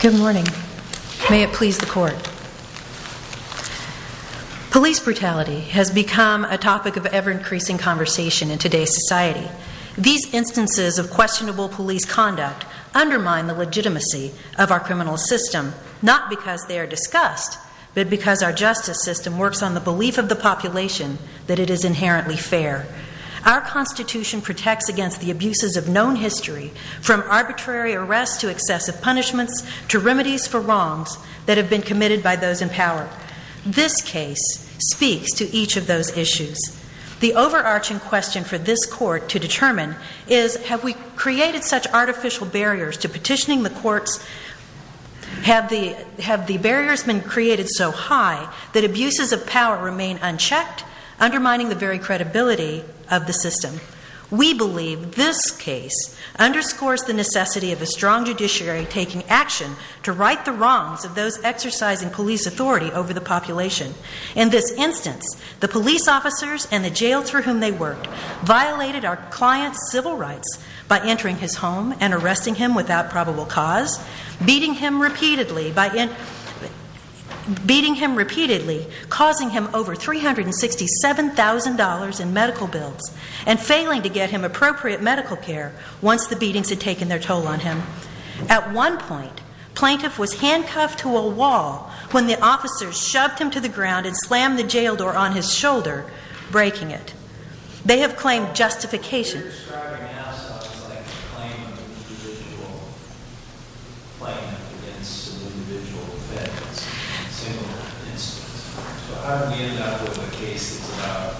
Good morning. May it please the court. Police brutality has become a topic of ever-increasing conversation in today's society. These instances of questionable police conduct undermine the legitimacy of our criminal system, not because they are discussed, but because our justice system works on the belief of the population that it is inherently fair. Our Constitution protects against the abuses of known history, from arbitrary arrests to excessive punishments, to remedies for wrongs that have been committed by those in power. This case speaks to each of those issues. The overarching question for this court to determine is, have we created such artificial barriers to petitioning the courts? Have the barriers been created so high that abuses of power remain unchecked, undermining the very credibility of the system? We believe this case underscores the necessity of a strong judiciary taking action to right the wrongs of those exercising police authority over the population. In this instance, the police officers and the jails for whom they worked violated our client's civil rights by entering his home and arresting him without probable cause, beating him repeatedly by the hand, causing him over $367,000 in medical bills, and failing to get him appropriate medical care once the beatings had taken their toll on him. At one point, the plaintiff was handcuffed to a wall when the officers shoved him to the ground and slammed the jail door on his shoulder, breaking it. They have claimed justification. You're describing now something like a claim of an individual plaintiff against an individual defendant in a similar instance. So how did we end up with a case that's about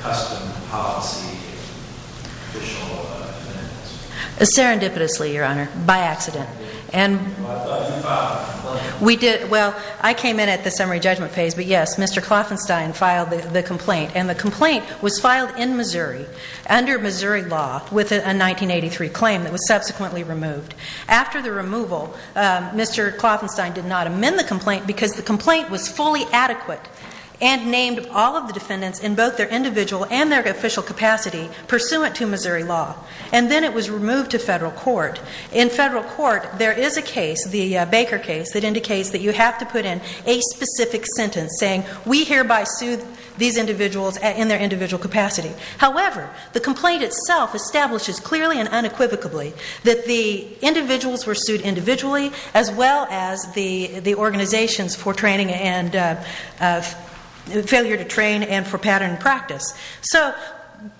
custom policy and official defendants? Serendipitously, Your Honor, by accident. Well, I thought you filed a complaint. We did. Well, I came in at the summary judgment phase, but yes, Mr. Klopfenstein filed the complaint, and the complaint was filed in Missouri under Missouri law with a 1983 claim that was subsequently removed. After the removal, Mr. Klopfenstein did not amend the complaint because the complaint was fully adequate and named all of the defendants in both their individual and their official capacity pursuant to Missouri law, and then it was removed to in a specific sentence saying, we hereby sue these individuals in their individual capacity. However, the complaint itself establishes clearly and unequivocally that the individuals were sued individually as well as the organizations for training and failure to train and for pattern and practice. So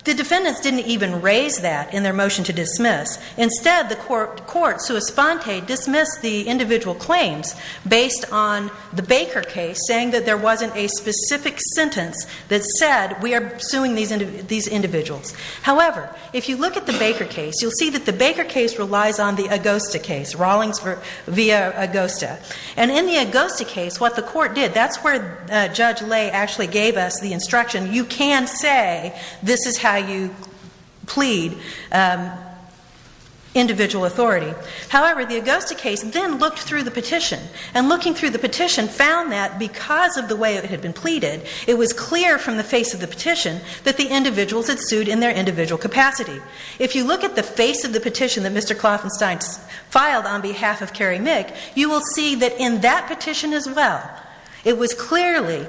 the defendants didn't even raise that in their motion to dismiss. Instead, the court, sua sponte, dismissed the individual claims based on the Baker case saying that there wasn't a specific sentence that said, we are suing these individuals. However, if you look at the Baker case, you'll see that the Baker case relies on the Augusta case, Rawlings v. Augusta. And in the Augusta case, what the court did, that's where Judge Cailloux plead individual authority. However, the Augusta case then looked through the petition and looking through the petition found that because of the way it had been pleaded, it was clear from the face of the petition that the individuals had sued in their individual capacity. If you look at the face of the petition that Mr. Klopfenstein filed on behalf of Kerry Mick, you will see that in that petition as well, it was clearly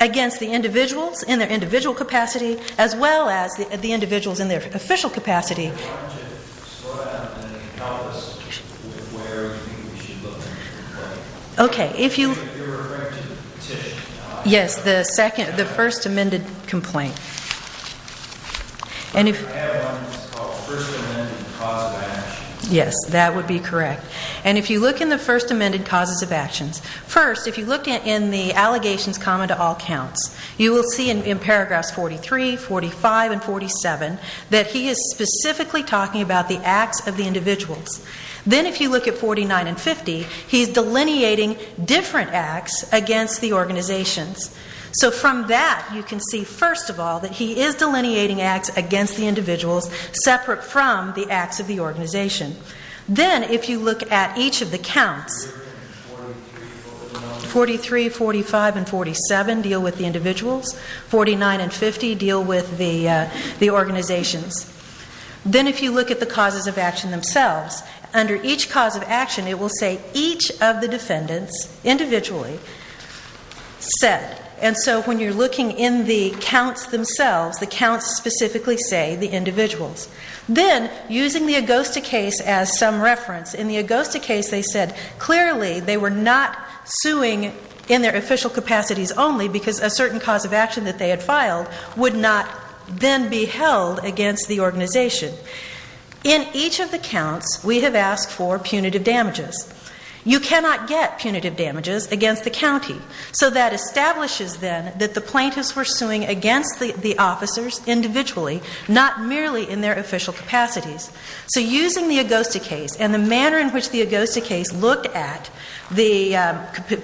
against the individuals in their individual capacity as well as the individuals in their official capacity. I wanted to slow down and help us with where we should look in the complaint. You're referring to the petition? Yes, the first amended complaint. I have one that's called first amended cause of action. Yes, that would be correct. And if you look in the first amended causes of actions, first, if you looked in the allegations common to all counts, you will see in paragraphs 43, 45 and 47 that he is specifically talking about the acts of the individuals. Then if you look at 49 and 50, he's delineating different acts against the organizations. So from that you can see, first of all, that he is delineating acts against the individuals separate from the acts of the organization. Then if you look at each of the counts, 43, 45 and 47 deal with the individuals, 49 and 50 deal with the organizations. Then if you look at the causes of action themselves, under each cause of action it will say each of the defendants individually said. And so when you're looking in the counts themselves, the counts specifically say the individuals. Then using the Augusta case as some reference, in the Augusta case they said clearly they were not suing in their official capacities only because a certain cause of action that they had filed would not then be held against the organization. In each of the counts we have asked for punitive damages. You cannot get punitive damages against the county. So that establishes then that the plaintiffs were suing against the organization, not merely in their official capacities. So using the Augusta case and the manner in which the Augusta case looked at the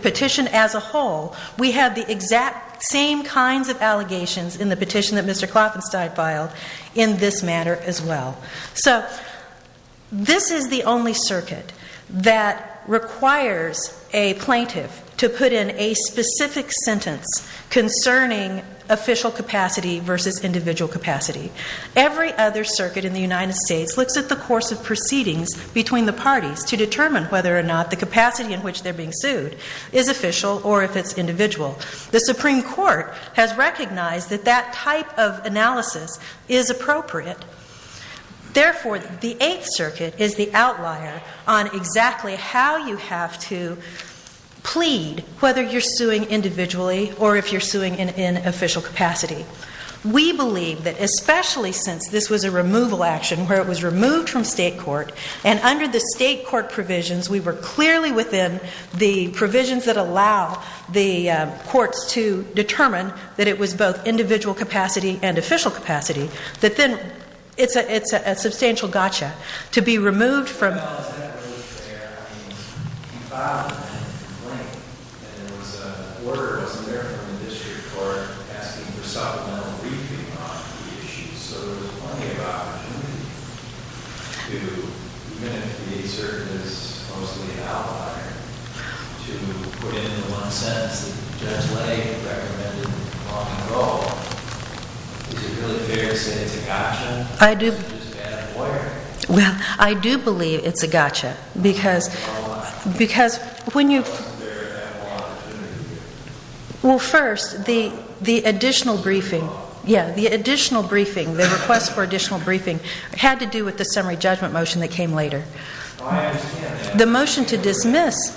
petition as a whole, we have the exact same kinds of allegations in the petition that Mr. Klopfenstein filed in this manner as well. So this is the only circuit that requires a plaintiff to put in a specific sentence concerning official capacity versus individual capacity. Every other circuit in the United States looks at the course of proceedings between the parties to determine whether or not the capacity in which they're being sued is official or if it's individual. The Supreme Court has recognized that that type of analysis is appropriate. Therefore the Eighth Circuit is the outlier on exactly how you have to plead whether you're suing individually or if you're suing in official capacity. We believe that especially since this was a removal action where it was removed from state court and under the state court provisions we were clearly within the provisions that allow the courts to determine that it was both individual capacity and official capacity, that then it's a substantial gotcha to be removed from... Well, I do believe it's a gotcha because when you... Well, first the additional briefing, yeah, the additional briefing, the request for additional briefing had to do with the summary judgment motion that came later. The motion to dismiss...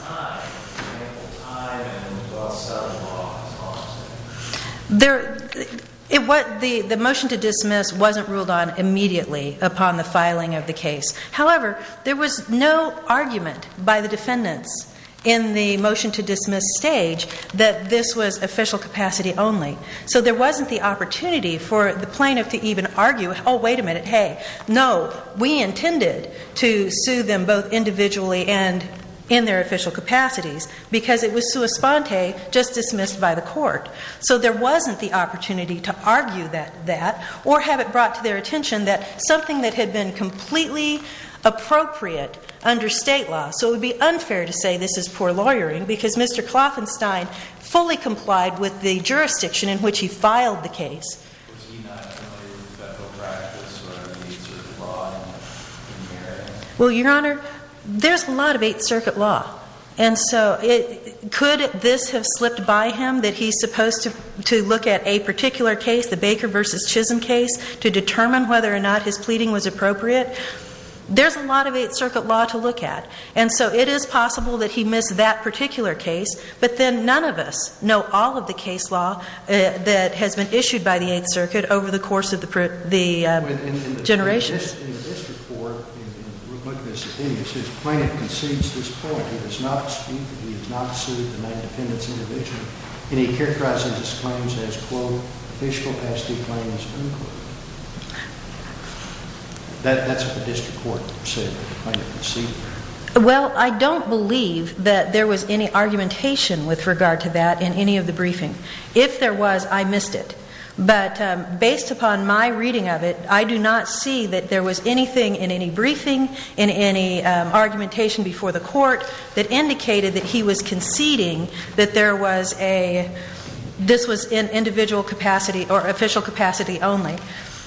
The motion to dismiss wasn't ruled on immediately upon the filing of the case. However, there was no argument by the defendants in the motion to dismiss stage that this was official capacity only. So there wasn't the opportunity for the plaintiff to even argue, oh, wait a minute, hey, no, we intended to sue them both individually and in their official capacities because it was sua sponte, just dismissed by the court. So there wasn't the opportunity to argue that or have it brought to their attention that something that had been completely appropriate under state law. So it would be unfair to say this is poor lawyering because Mr. Klopfenstein fully complied with the jurisdiction in which he filed the case. Was he not familiar with federal practice or the Eighth Circuit law in the area? Well, Your Honor, there's a lot of Eighth Circuit law. And so could this have slipped by him that he's supposed to look at a particular case, the Baker v. Chisholm case, to determine whether or not his pleading was appropriate? There's a lot of Eighth Circuit law to look at. And so it is possible that he missed that particular case. But then none of us know all of the case law that has been issued by the Eighth Circuit over the course of the generation. But in the district court, in rebuttance of this, his plaintiff concedes this point. He does not speak that he has not sued the nine defendants individually. And he characterizes his claims as, quote, official capacity claims, unquote. That's what the district court said that the plaintiff conceded. Well, I don't believe that there was any argumentation with regard to that in any of the briefing. If there was, I missed it. But based upon my reading of it, I do not see that there was anything in any briefing, in any argumentation before the court that indicated that he was conceding that there was a, this was in individual capacity or official capacity only.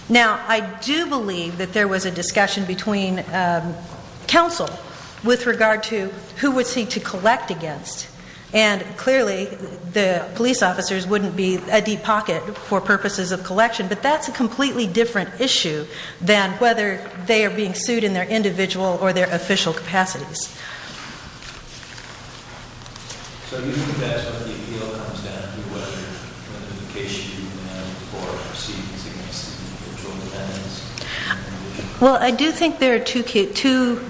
Now, I do believe that there was a discussion between counsel with regard to who was he to collect against. And clearly, the police officers wouldn't be a deep pocket for purposes of collection. But that's a completely different issue than whether they are being sued in their individual or their official capacities. Well, I do think there are two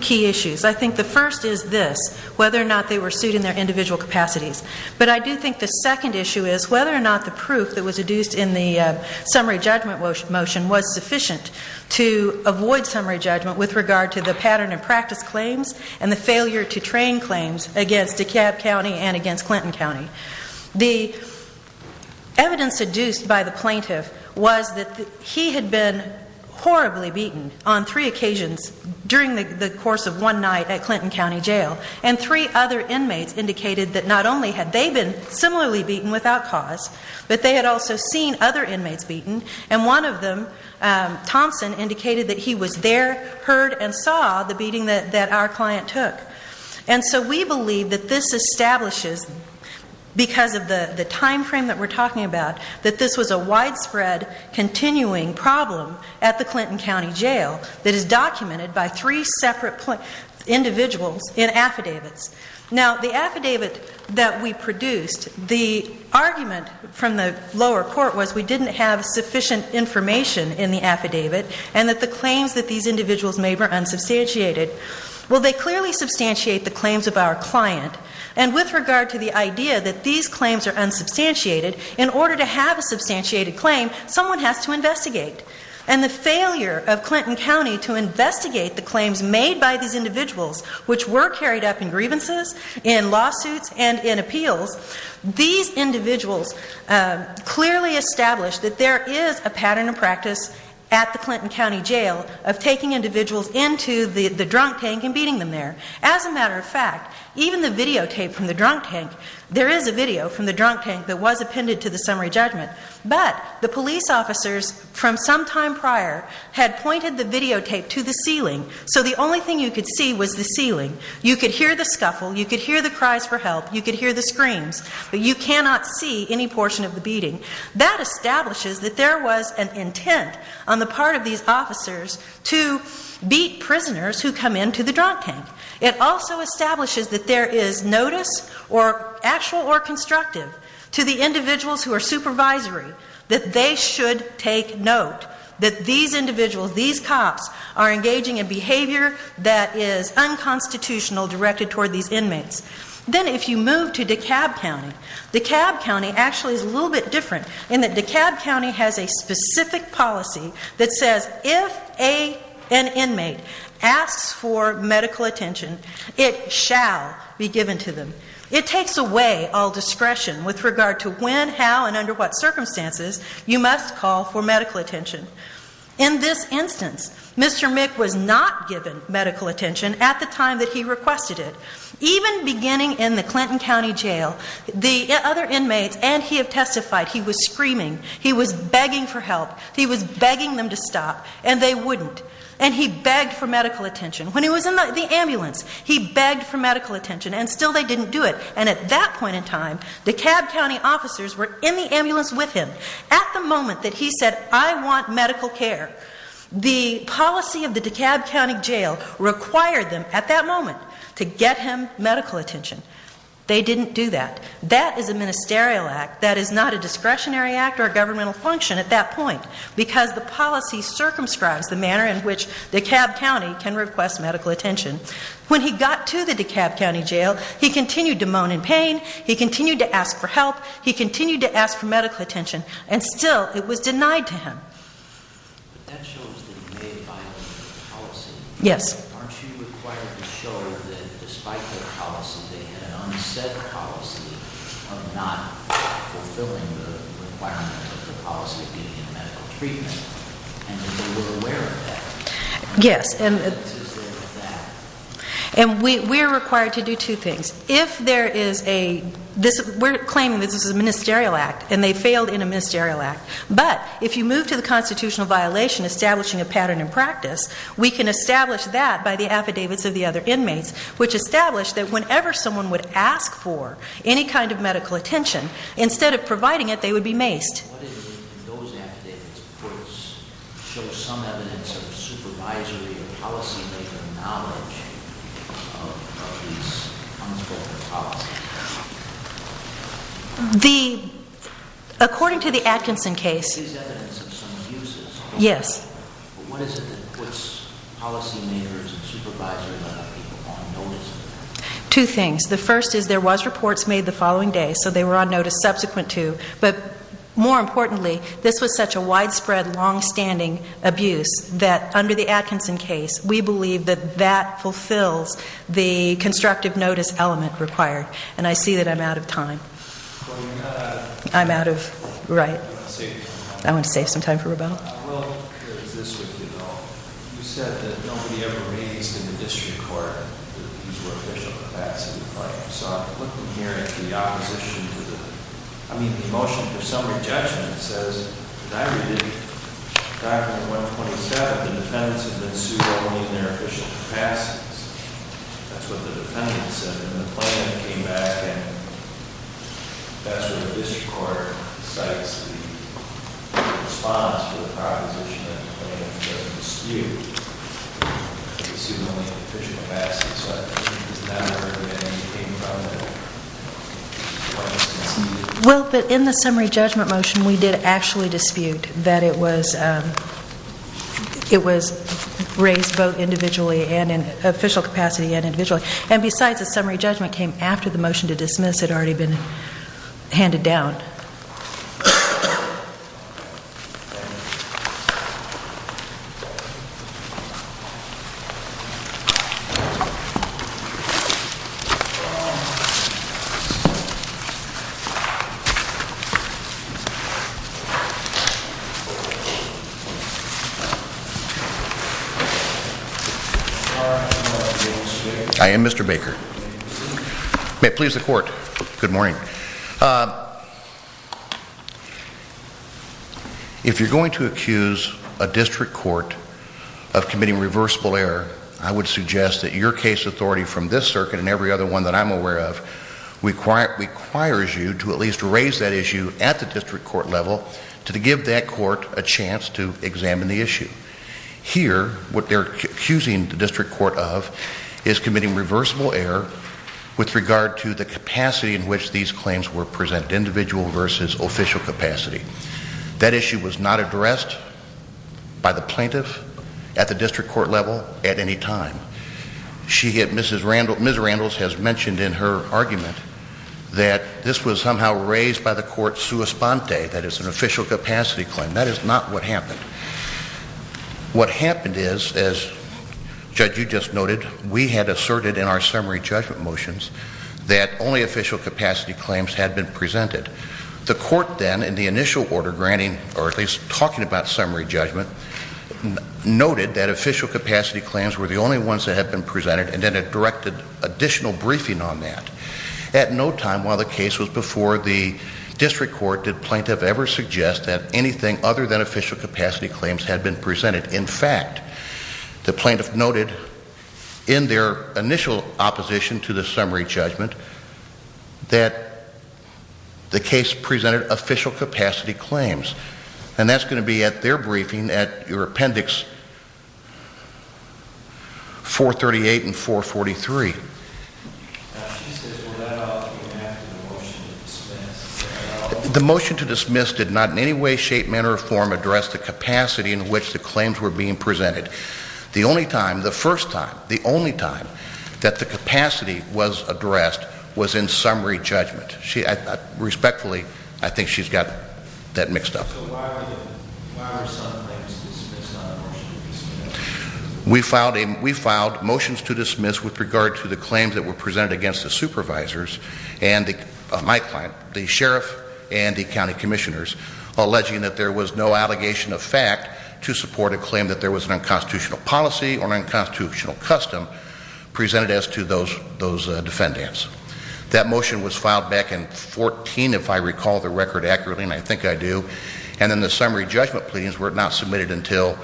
key issues. I think the first is this, whether or not they were sued in their individual capacities. But I do think the second issue is whether or not the proof that was adduced in the summary judgment motion was sufficient to avoid summary judgment with regard to the pattern and practice claims and the failure to train claims against DeKalb County and against Clinton County. The evidence adduced by the plaintiff was that he had been horribly beaten on three occasions during the course of one night at Clinton County Jail. And three other inmates indicated that not only had they been similarly beaten without cause, but they had also seen other inmates beaten. And one of them, Thompson, indicated that he was there, heard, and saw the beating that our client took. And so we believe that this establishes, because of the timeframe that we're talking about, that this was a widespread continuing problem at the Clinton County Jail that is documented by three separate individuals in affidavits. Now, the affidavit that we produced, the argument from the lower court was we didn't have sufficient information in the affidavit and that the claims that these individuals made were unsubstantiated. Well, they clearly substantiate the claims of our client. And with regard to the idea that these claims are unsubstantiated, in order to have a substantiated claim, someone has to investigate. And the failure of Clinton County to investigate the lawsuits and in appeals, these individuals clearly established that there is a pattern of practice at the Clinton County Jail of taking individuals into the drunk tank and beating them there. As a matter of fact, even the videotape from the drunk tank, there is a video from the drunk tank that was appended to the summary judgment, but the police officers from some time prior had pointed the videotape to the ceiling. So the only thing you could see was the rifle. You could hear the cries for help. You could hear the screams. But you cannot see any portion of the beating. That establishes that there was an intent on the part of these officers to beat prisoners who come into the drunk tank. It also establishes that there is notice or actual or constructive to the individuals who are supervisory that they should take note that these individuals, these cops, are engaging in behavior that is unconstitutional directed toward these inmates. Then if you move to DeKalb County, DeKalb County actually is a little bit different in that DeKalb County has a specific policy that says if an inmate asks for medical attention, it shall be given to them. It takes away all discretion with regard to when, how, and under what circumstances you must call for medical attention at the time that he requested it. Even beginning in the Clinton County Jail, the other inmates, and he had testified, he was screaming. He was begging for help. He was begging them to stop, and they wouldn't. And he begged for medical attention. When he was in the ambulance, he begged for medical attention, and still they didn't do it. And at that point in time, DeKalb County officers were in the ambulance with him. At the moment that he said, I want medical care, the DeKalb County officers were in the ambulance with him. They required them at that moment to get him medical attention. They didn't do that. That is a ministerial act. That is not a discretionary act or a governmental function at that point because the policy circumscribes the manner in which DeKalb County can request medical attention. When he got to the DeKalb County Jail, he continued to moan in pain. He Yes. And we're required to do two things. If there is a, we're claiming this is a ministerial act, and they failed in a ministerial act. But if you move to the constitutional violation establishing a pattern in practice, we can establish that by the affidavits of the other inmates, which establish that whenever someone would ask for any kind of medical attention, instead of providing it, they would be maced. And what is it in those affidavits, courts show some evidence of supervisory or policymaker knowledge of these unspoken policies? The, according to the Atkinson case. There is evidence of some abuses. Yes. But what is it that puts policymakers and supervisors on notice? Two things. The first is there was reports made the following day, so they were on notice subsequent to. But more importantly, this was such a widespread, longstanding abuse that under the Atkinson case, we believe that that fulfills the constructive notice element required. And I see that I'm out of time. Well, we've got to I'm out of, right. I want to save you some time. I want to save some time for rebuttal. Well, here's this with you, though. You said that nobody ever raised in the district court that these were official capacity claims. So what I'm hearing from the opposition to the, I mean, the motion, there's some rejection that says, and I read it, document 127, the defendants have been sued only in their official capacities. That's what the defendant said. And then the plaintiff came back and that's what the district court decides to respond to the proposition that the plaintiff has been sued. They've been sued only in their official capacities. So I think it's not heard anything from the Well, but in the summary judgment motion, we did actually dispute that it was it was raised both individually and in official capacity and individually. And besides, the summary judgment came after the motion to dismiss had already been handed down. I am Mr. Baker. May it please the court. Good morning. If you're going to accuse a district court of committing reversible error, I would suggest that your case authority from this circuit and every other one that I'm aware of requires you to at least raise that issue at the district court level to give that court a chance to examine the issue. Here, what they're accusing the district court of is committing individual versus official capacity. That issue was not addressed by the plaintiff at the district court level at any time. She had Mrs. Randall, Ms. Randall has mentioned in her argument that this was somehow raised by the court sua sponte, that it's an official capacity claim. That is not what happened. What happened is, as Judge, you just noted, we had asserted in our summary judgment motions that only official capacity claims had been presented. The court then, in the initial order granting, or at least talking about summary judgment, noted that official capacity claims were the only ones that had been presented and then it directed additional briefing on that. At no time while the case was before the district court did plaintiff ever suggest that anything other than official capacity claims had been presented. In fact, the plaintiff noted in their initial opposition to the summary judgment that the case presented official capacity claims. And that's going to be at their briefing at your appendix 438 and 443. The motion to dismiss did not in any way shape, manner, or form address the capacity in which the claims were being presented. The only time, the first time, the only time that the capacity was addressed was in summary judgment. Respectfully, I think she's got that mixed up. So why were some claims dismissed on a motion to dismiss? We filed motions to dismiss with regard to the claims that were presented against the supervisors and my client, the sheriff and the county commissioners, alleging that there was no allegation of fact to support a claim that there was an unconstitutional policy or unconstitutional custom presented as to those defendants. That motion was filed back in 14, if I recall the record accurately, and I think I do. And then the summary judgment pleadings were not submitted until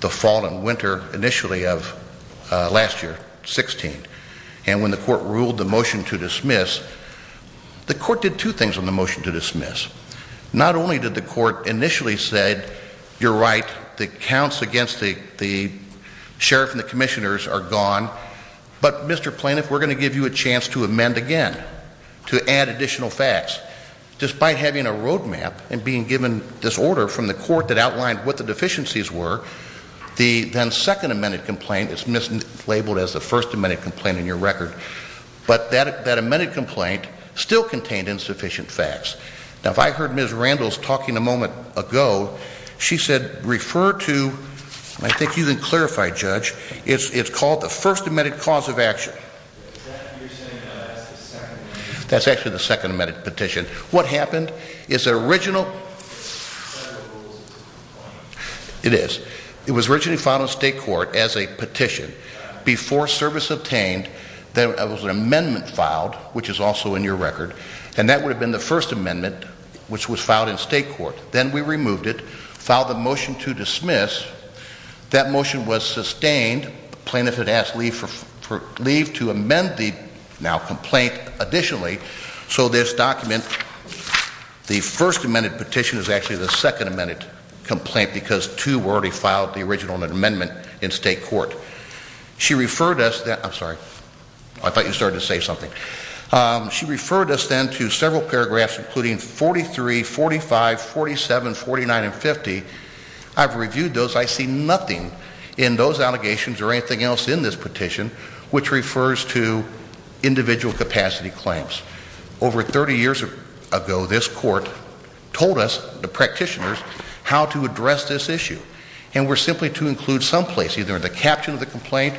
the fall and winter initially of last year, 16. And when the court ruled the motion to dismiss, the court did two things on the motion to dismiss. Not only did the court initially said, you're right, the defense has a chance to amend again, to add additional facts. Despite having a road map and being given this order from the court that outlined what the deficiencies were, the then second amended complaint is mislabeled as the first amended complaint in your record. But that amended complaint still contained insufficient facts. Now, if I heard Ms. Randles talking a moment ago, she said, refer to I think you can clarify, Judge. It's called the first amended cause of action. That's actually the second amended petition. What happened is the original It is. It was originally filed in state court as a petition before service obtained, there was an amendment filed, which is also in your record, and that would have been the first amendment, which was filed in state court. Then we removed it, filed the motion to dismiss. That motion was sustained. The plaintiff had asked leave to amend the now complaint additionally. So this document, the first amended petition is actually the second amended complaint because two were already filed, the original and the amendment in state court. She referred us, I'm sorry, I thought you started to say something. She referred us then to several paragraphs including 43, 45, 47, 49 and 50. I've reviewed those. I see nothing in those allegations or anything else in this petition which refers to individual capacity claims. Over 30 years ago, this court told us, the practitioners, how to address this issue. And we're simply to include some place either in the caption of the complaint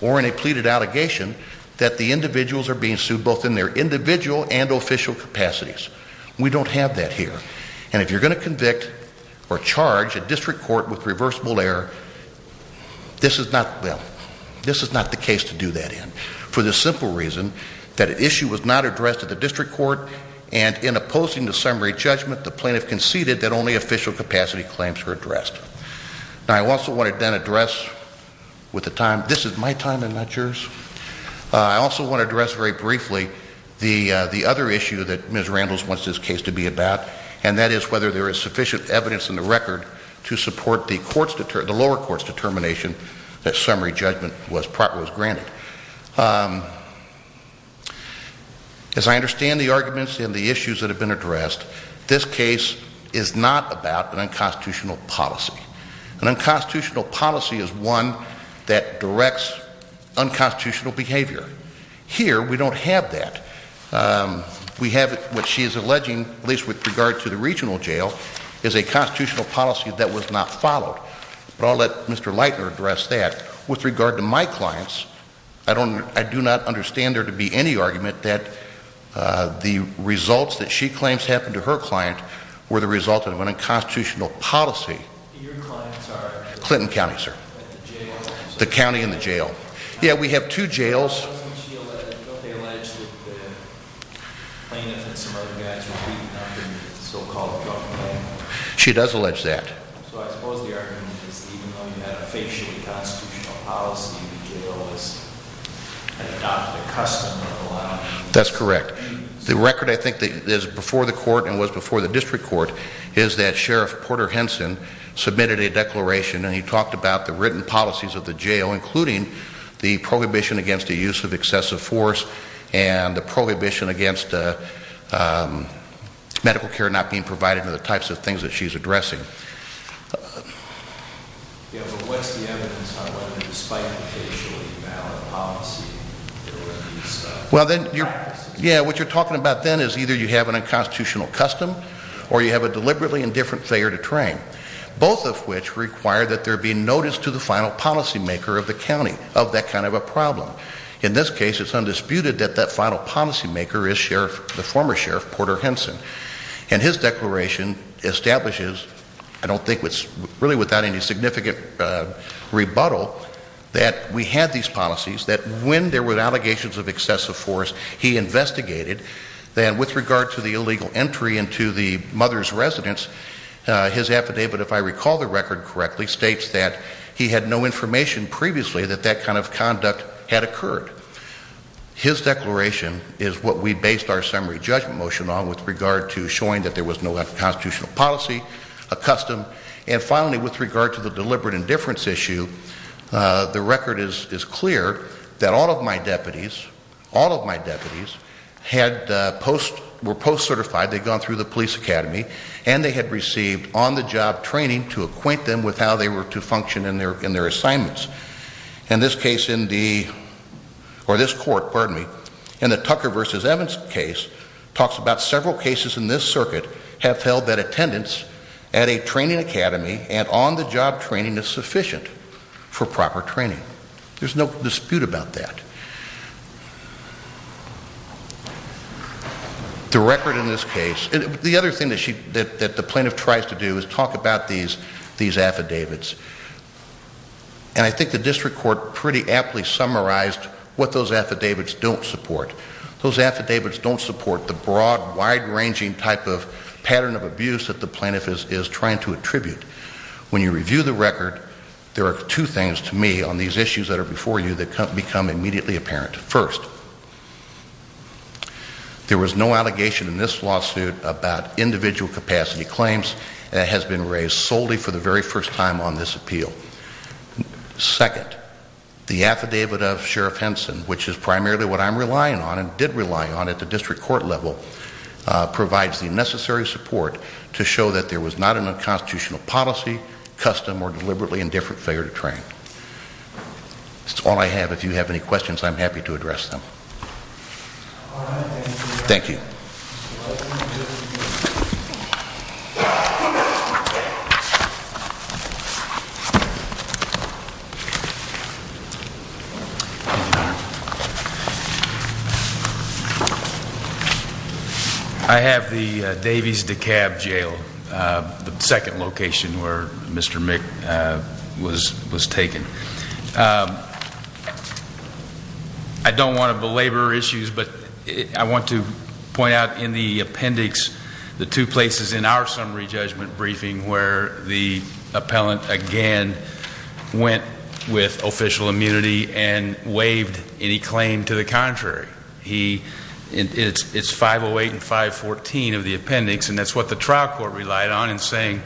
or in a pleaded allegation that the individuals are being sued both in their individual and official capacities. We don't have that here. And if you're going to convict or charge a district court with reversible error, this is not the case to do that in. For the simple reason that issue was not addressed at the district court and in opposing the summary judgment the plaintiff conceded that only official capacity claims were addressed. Now I also want to then address with the time, this is my time and not yours. I also want to address very briefly the other issue that Ms. Randles wants this case to be about and that is whether there is sufficient evidence in the record to support the lower court's determination that summary judgment was granted. As I understand the arguments and the issues that have been addressed this case is not about an unconstitutional policy. An unconstitutional policy is one that directs unconstitutional behavior. Here we don't have that. We have what she is alleging, at least with regard to the regional jail, is a constitutional policy that was not followed. But I'll let Mr. Leitner address that. With regard to my clients I do not understand there to be any argument that the results that she claims happened to her client were the result of an unconstitutional policy. Clinton County, sir. The county and the jail. Yeah, we have two jails. She does allege that. That's correct. The record I think is before the court and was before the district court is that Sheriff Porter Henson submitted a declaration and he talked about the written policies of the jail including the prohibition against the use of excessive force and the prohibition against medical care not being provided and the types of things that she is addressing. Yeah, but what's the evidence on whether despite the case you're evaluating policy there were these practices? Yeah, what you're talking about then is either you have an unconstitutional custom or you have a deliberately indifferent failure to train. Both of which require that there be notice to the final policy maker of the county of that kind of a problem. In this case it's undisputed that that final policy maker is Sheriff, the former Sheriff Porter Henson. And his declaration establishes I don't think it's really without any significant rebuttal that we had these policies that when there were allegations of excessive force he investigated then with regard to the illegal entry into the mother's residence his affidavit if I recall the record correctly states that he had no information previously that that kind of conduct had occurred. His declaration is what we based our summary judgment motion on with regard to showing that there was no unconstitutional policy a custom and finally with regard to the deliberate indifference issue the record is clear that all of my deputies, all of my deputies were post certified they'd gone through the police academy and they had received on the job training to acquaint them with how they were to function in their assignments. In this case in the, or this court pardon me, in the Tucker versus Evans case talks about several cases in this circuit have held that attendance at a training academy and on the job training is sufficient for proper training. There's no dispute about that. The record in this case the other thing that the plaintiff tries to do is talk about these affidavits and I think the district court pretty aptly summarized what those affidavits don't support those affidavits don't support the broad wide ranging type of pattern of abuse that the plaintiff is trying to attribute. When you review the record there are two things to me on these issues that are before you that become immediately apparent. First, there was no allegation in this lawsuit about individual capacity claims that has been raised solely for the very first time on this appeal. Second, the affidavit of Sheriff Henson which is primarily what I'm relying on and did rely on at the district court level provides the necessary support to show that there was not an unconstitutional policy, custom, or deliberately indifferent failure to train. That's all I have. If you have any questions I'm happy to address them. Thank you. I have the Davies-DeKalb Jail, the second location where Mr. Mick was taken. I don't want to belabor issues but I want to point out in the appendix the two places in our summary judgment briefing where the appellant again went with official immunity and waived any claim to the contrary. It's 508 and 514 of the appendix and that's what the trial court relied on in saying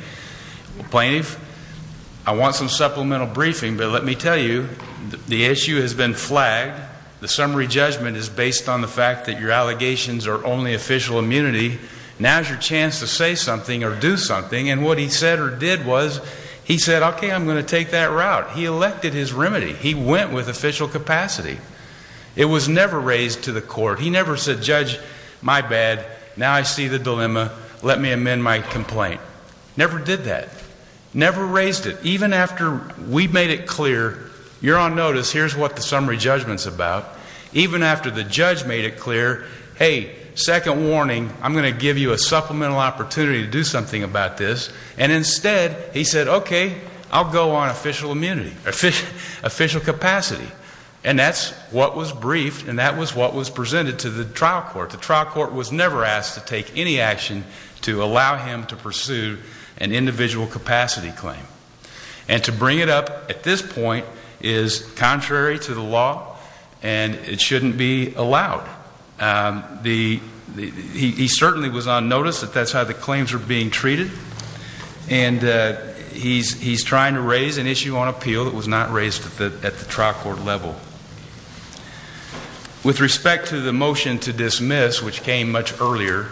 plaintiff, I want some supplemental briefing but let me tell you the issue has been flagged. The summary judgment is based on the fact that your allegations are only official immunity. Now is your chance to say something or do something and what he said or did was he said okay I'm going to take that route. He elected his remedy. He went with official capacity. It was never raised to the court. He never said judge, my bad, now I see the dilemma, let me amend my complaint. Never did that. Never raised it. Even after we made it clear, you're on notice, here's what the summary judgment is about. Even after the judge made it clear, hey, second warning, I'm going to give you a supplemental opportunity to do something about this and instead he said okay, I'll go on official immunity, official capacity and that's what was briefed and that was what was presented to the trial court. The trial court was never asked to take any action to allow him to pursue an individual capacity claim. And to bring it up at this point is contrary to the law and it shouldn't be allowed. He certainly was on notice that that's how the claims were being treated and he's trying to raise an issue on appeal that was not raised at the trial court level. With respect to the motion to dismiss, which came much earlier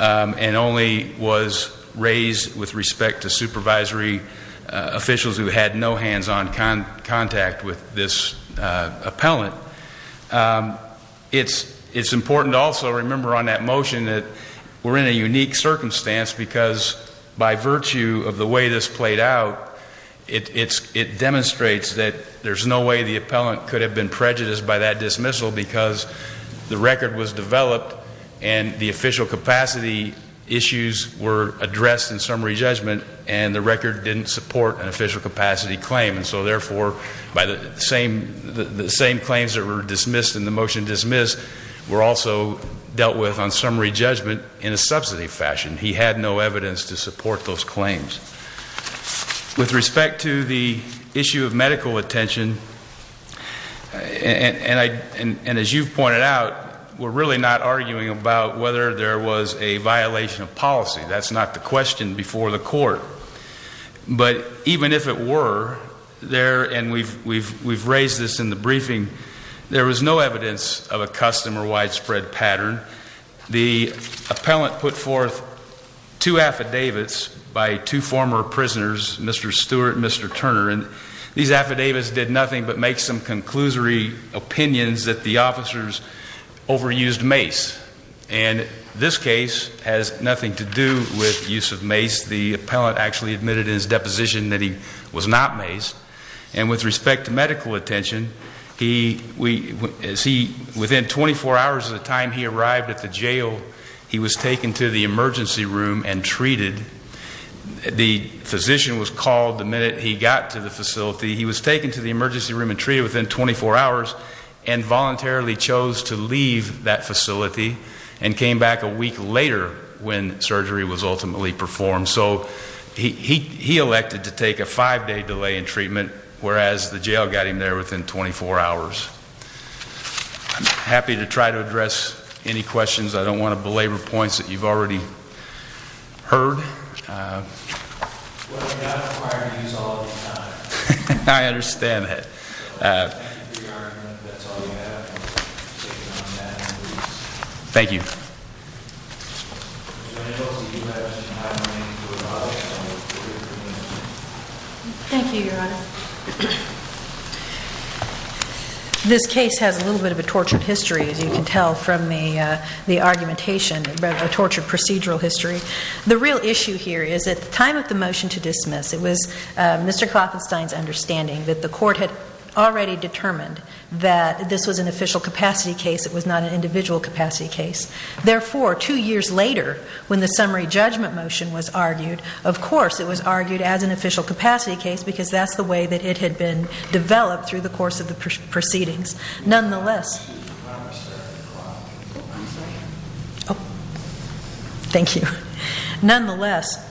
and only was raised with respect to supervisory officials who had no hands-on contact with this appellant, it's important to also remember on that motion that we're in a unique circumstance because by virtue of the way this played out, it demonstrates that there's no way the appellant could have been prejudiced by that dismissal because the record was developed and the official capacity issues were addressed in summary judgment and the record didn't support an official capacity claim and so therefore by the same claims that were dismissed in the motion dismissed were also dealt with on summary judgment in a substantive fashion. He had no evidence to support those claims. With respect to the issue of medical attention, and as you've pointed out, we're really not arguing about whether there was a violation of policy. That's not the question before the court. But even if it were, and we've raised this in the past, the appellant put forth two affidavits by two former prisoners, Mr. Stewart and Mr. Turner, and these affidavits did nothing but make some conclusory opinions that the officers overused mace. And this case has nothing to do with use of mace. The appellant actually admitted in his deposition that he was not at the jail. He was taken to the emergency room and treated. The physician was called the minute he got to the facility. He was taken to the emergency room and treated within 24 hours and voluntarily chose to leave that facility and came back a week later when surgery was ultimately performed. So he elected to take a five-day delay in treatment, whereas the jail got him there within 24 hours. I'm happy to try to address any questions. I don't want to belabor points that you've already heard. I understand that. Thank you. Thank you, Your Honor. This case has a little bit of a tortured history, as you can tell from the argumentation, a tortured procedural history. The real issue here is at the time of the motion to dismiss, it was Mr. Kloppenstein's understanding that the court had already Therefore, two years later, when the summary judgment motion was argued, of course, it was argued as an official capacity case because that's the way that it had been developed through the course of the proceedings. Nonetheless... Thank you. Nonetheless...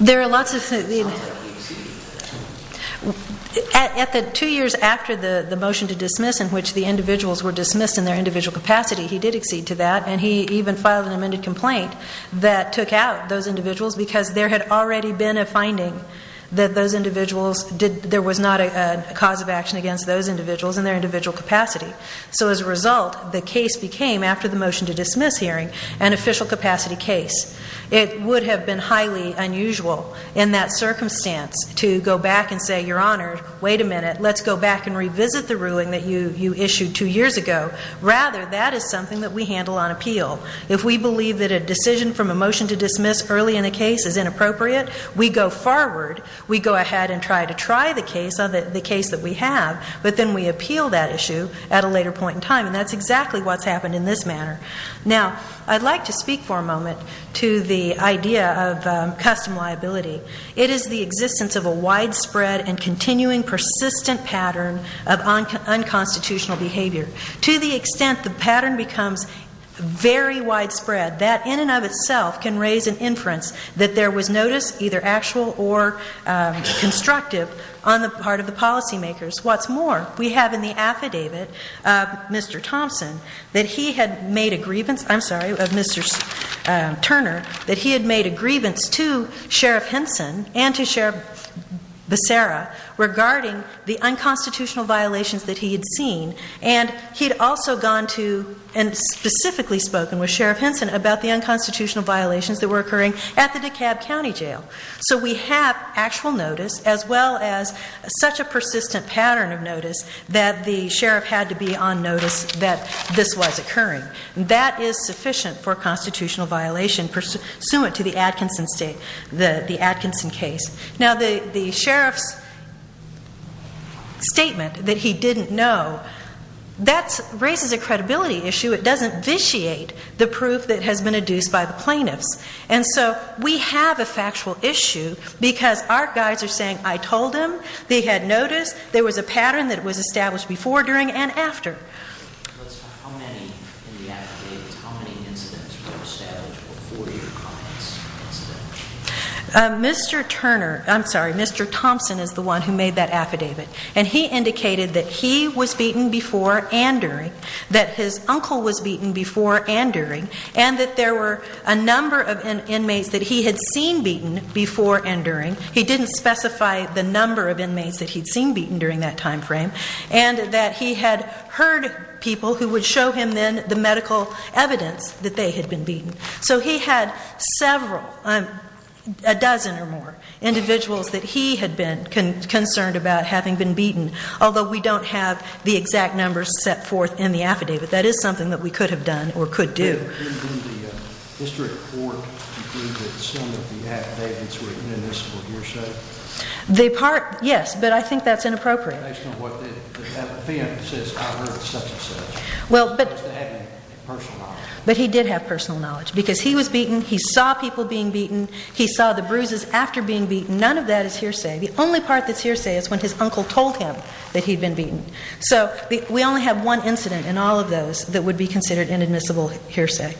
There are lots of... Two years after the motion to dismiss in which the individuals were dismissed in their individual capacity, he did accede to that and he even filed an amended complaint that took out those individuals because there had already been a finding that those individuals there was not a cause of action against those individuals in their individual capacity. So as a result, the case would have been highly unusual in that circumstance to go back and say, Your Honor, wait a minute, let's go back and revisit the ruling that you issued two years ago. Rather, that is something that we handle on appeal. If we believe that a decision from a motion to dismiss early in a case is inappropriate, we go forward. We go ahead and try to try the case that we have, but then we appeal that issue at a later point in time. And that's exactly what's happened in this manner. Now, I'd like to speak for a moment to the idea of custom liability. It is the existence of a widespread and continuing persistent pattern of unconstitutional behavior. To the extent the pattern becomes very widespread, that in and of itself can raise an inference that there was notice, either actual or that he had made a grievance, I'm sorry, of Mr. Turner, that he had made a grievance to Sheriff Henson and to Sheriff Becerra regarding the unconstitutional violations that he had seen. And he had also gone to and specifically spoken with Sheriff Henson about the unconstitutional violations that were occurring at the DeKalb County Jail. So we have actual notice as well as such a persistent pattern of notice that the sheriff had to be on notice that this was occurring. That is sufficient for constitutional violation pursuant to the Atkinson case. Now, the sheriff's statement that he didn't know, that raises a credibility issue. It doesn't vitiate the proof that has been adduced by the plaintiffs. And so we have a factual issue because our guys are saying I told him, they had notice, there was a pattern that was established before, during, and after. Mr. Turner, I'm sorry, Mr. Thompson is the one who made that affidavit. And he indicated that he was beaten before and during, that his uncle was beaten before and during, and that there were a number of inmates that he had seen beaten before and during. He didn't specify the number of inmates that he'd seen beaten during that time frame. And that he had heard people who would show him then the medical evidence that they had been beaten. So he had several, a dozen or more individuals that he had been concerned about having been beaten. Although we don't have the exact numbers set forth in the affidavit, that is something that we could have done or could do. The part, yes, but I think that's inappropriate. Well, but he did have personal knowledge because he was beaten. He saw people being beaten. He saw the bruises after being beaten. None of that is hearsay. The only part that's hearsay is when his uncle told him that he'd been beaten. So we only have one incident in all of those that would be considered inadmissible hearsay.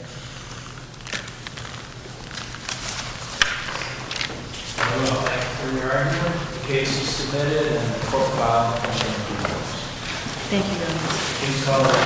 Thank you very much.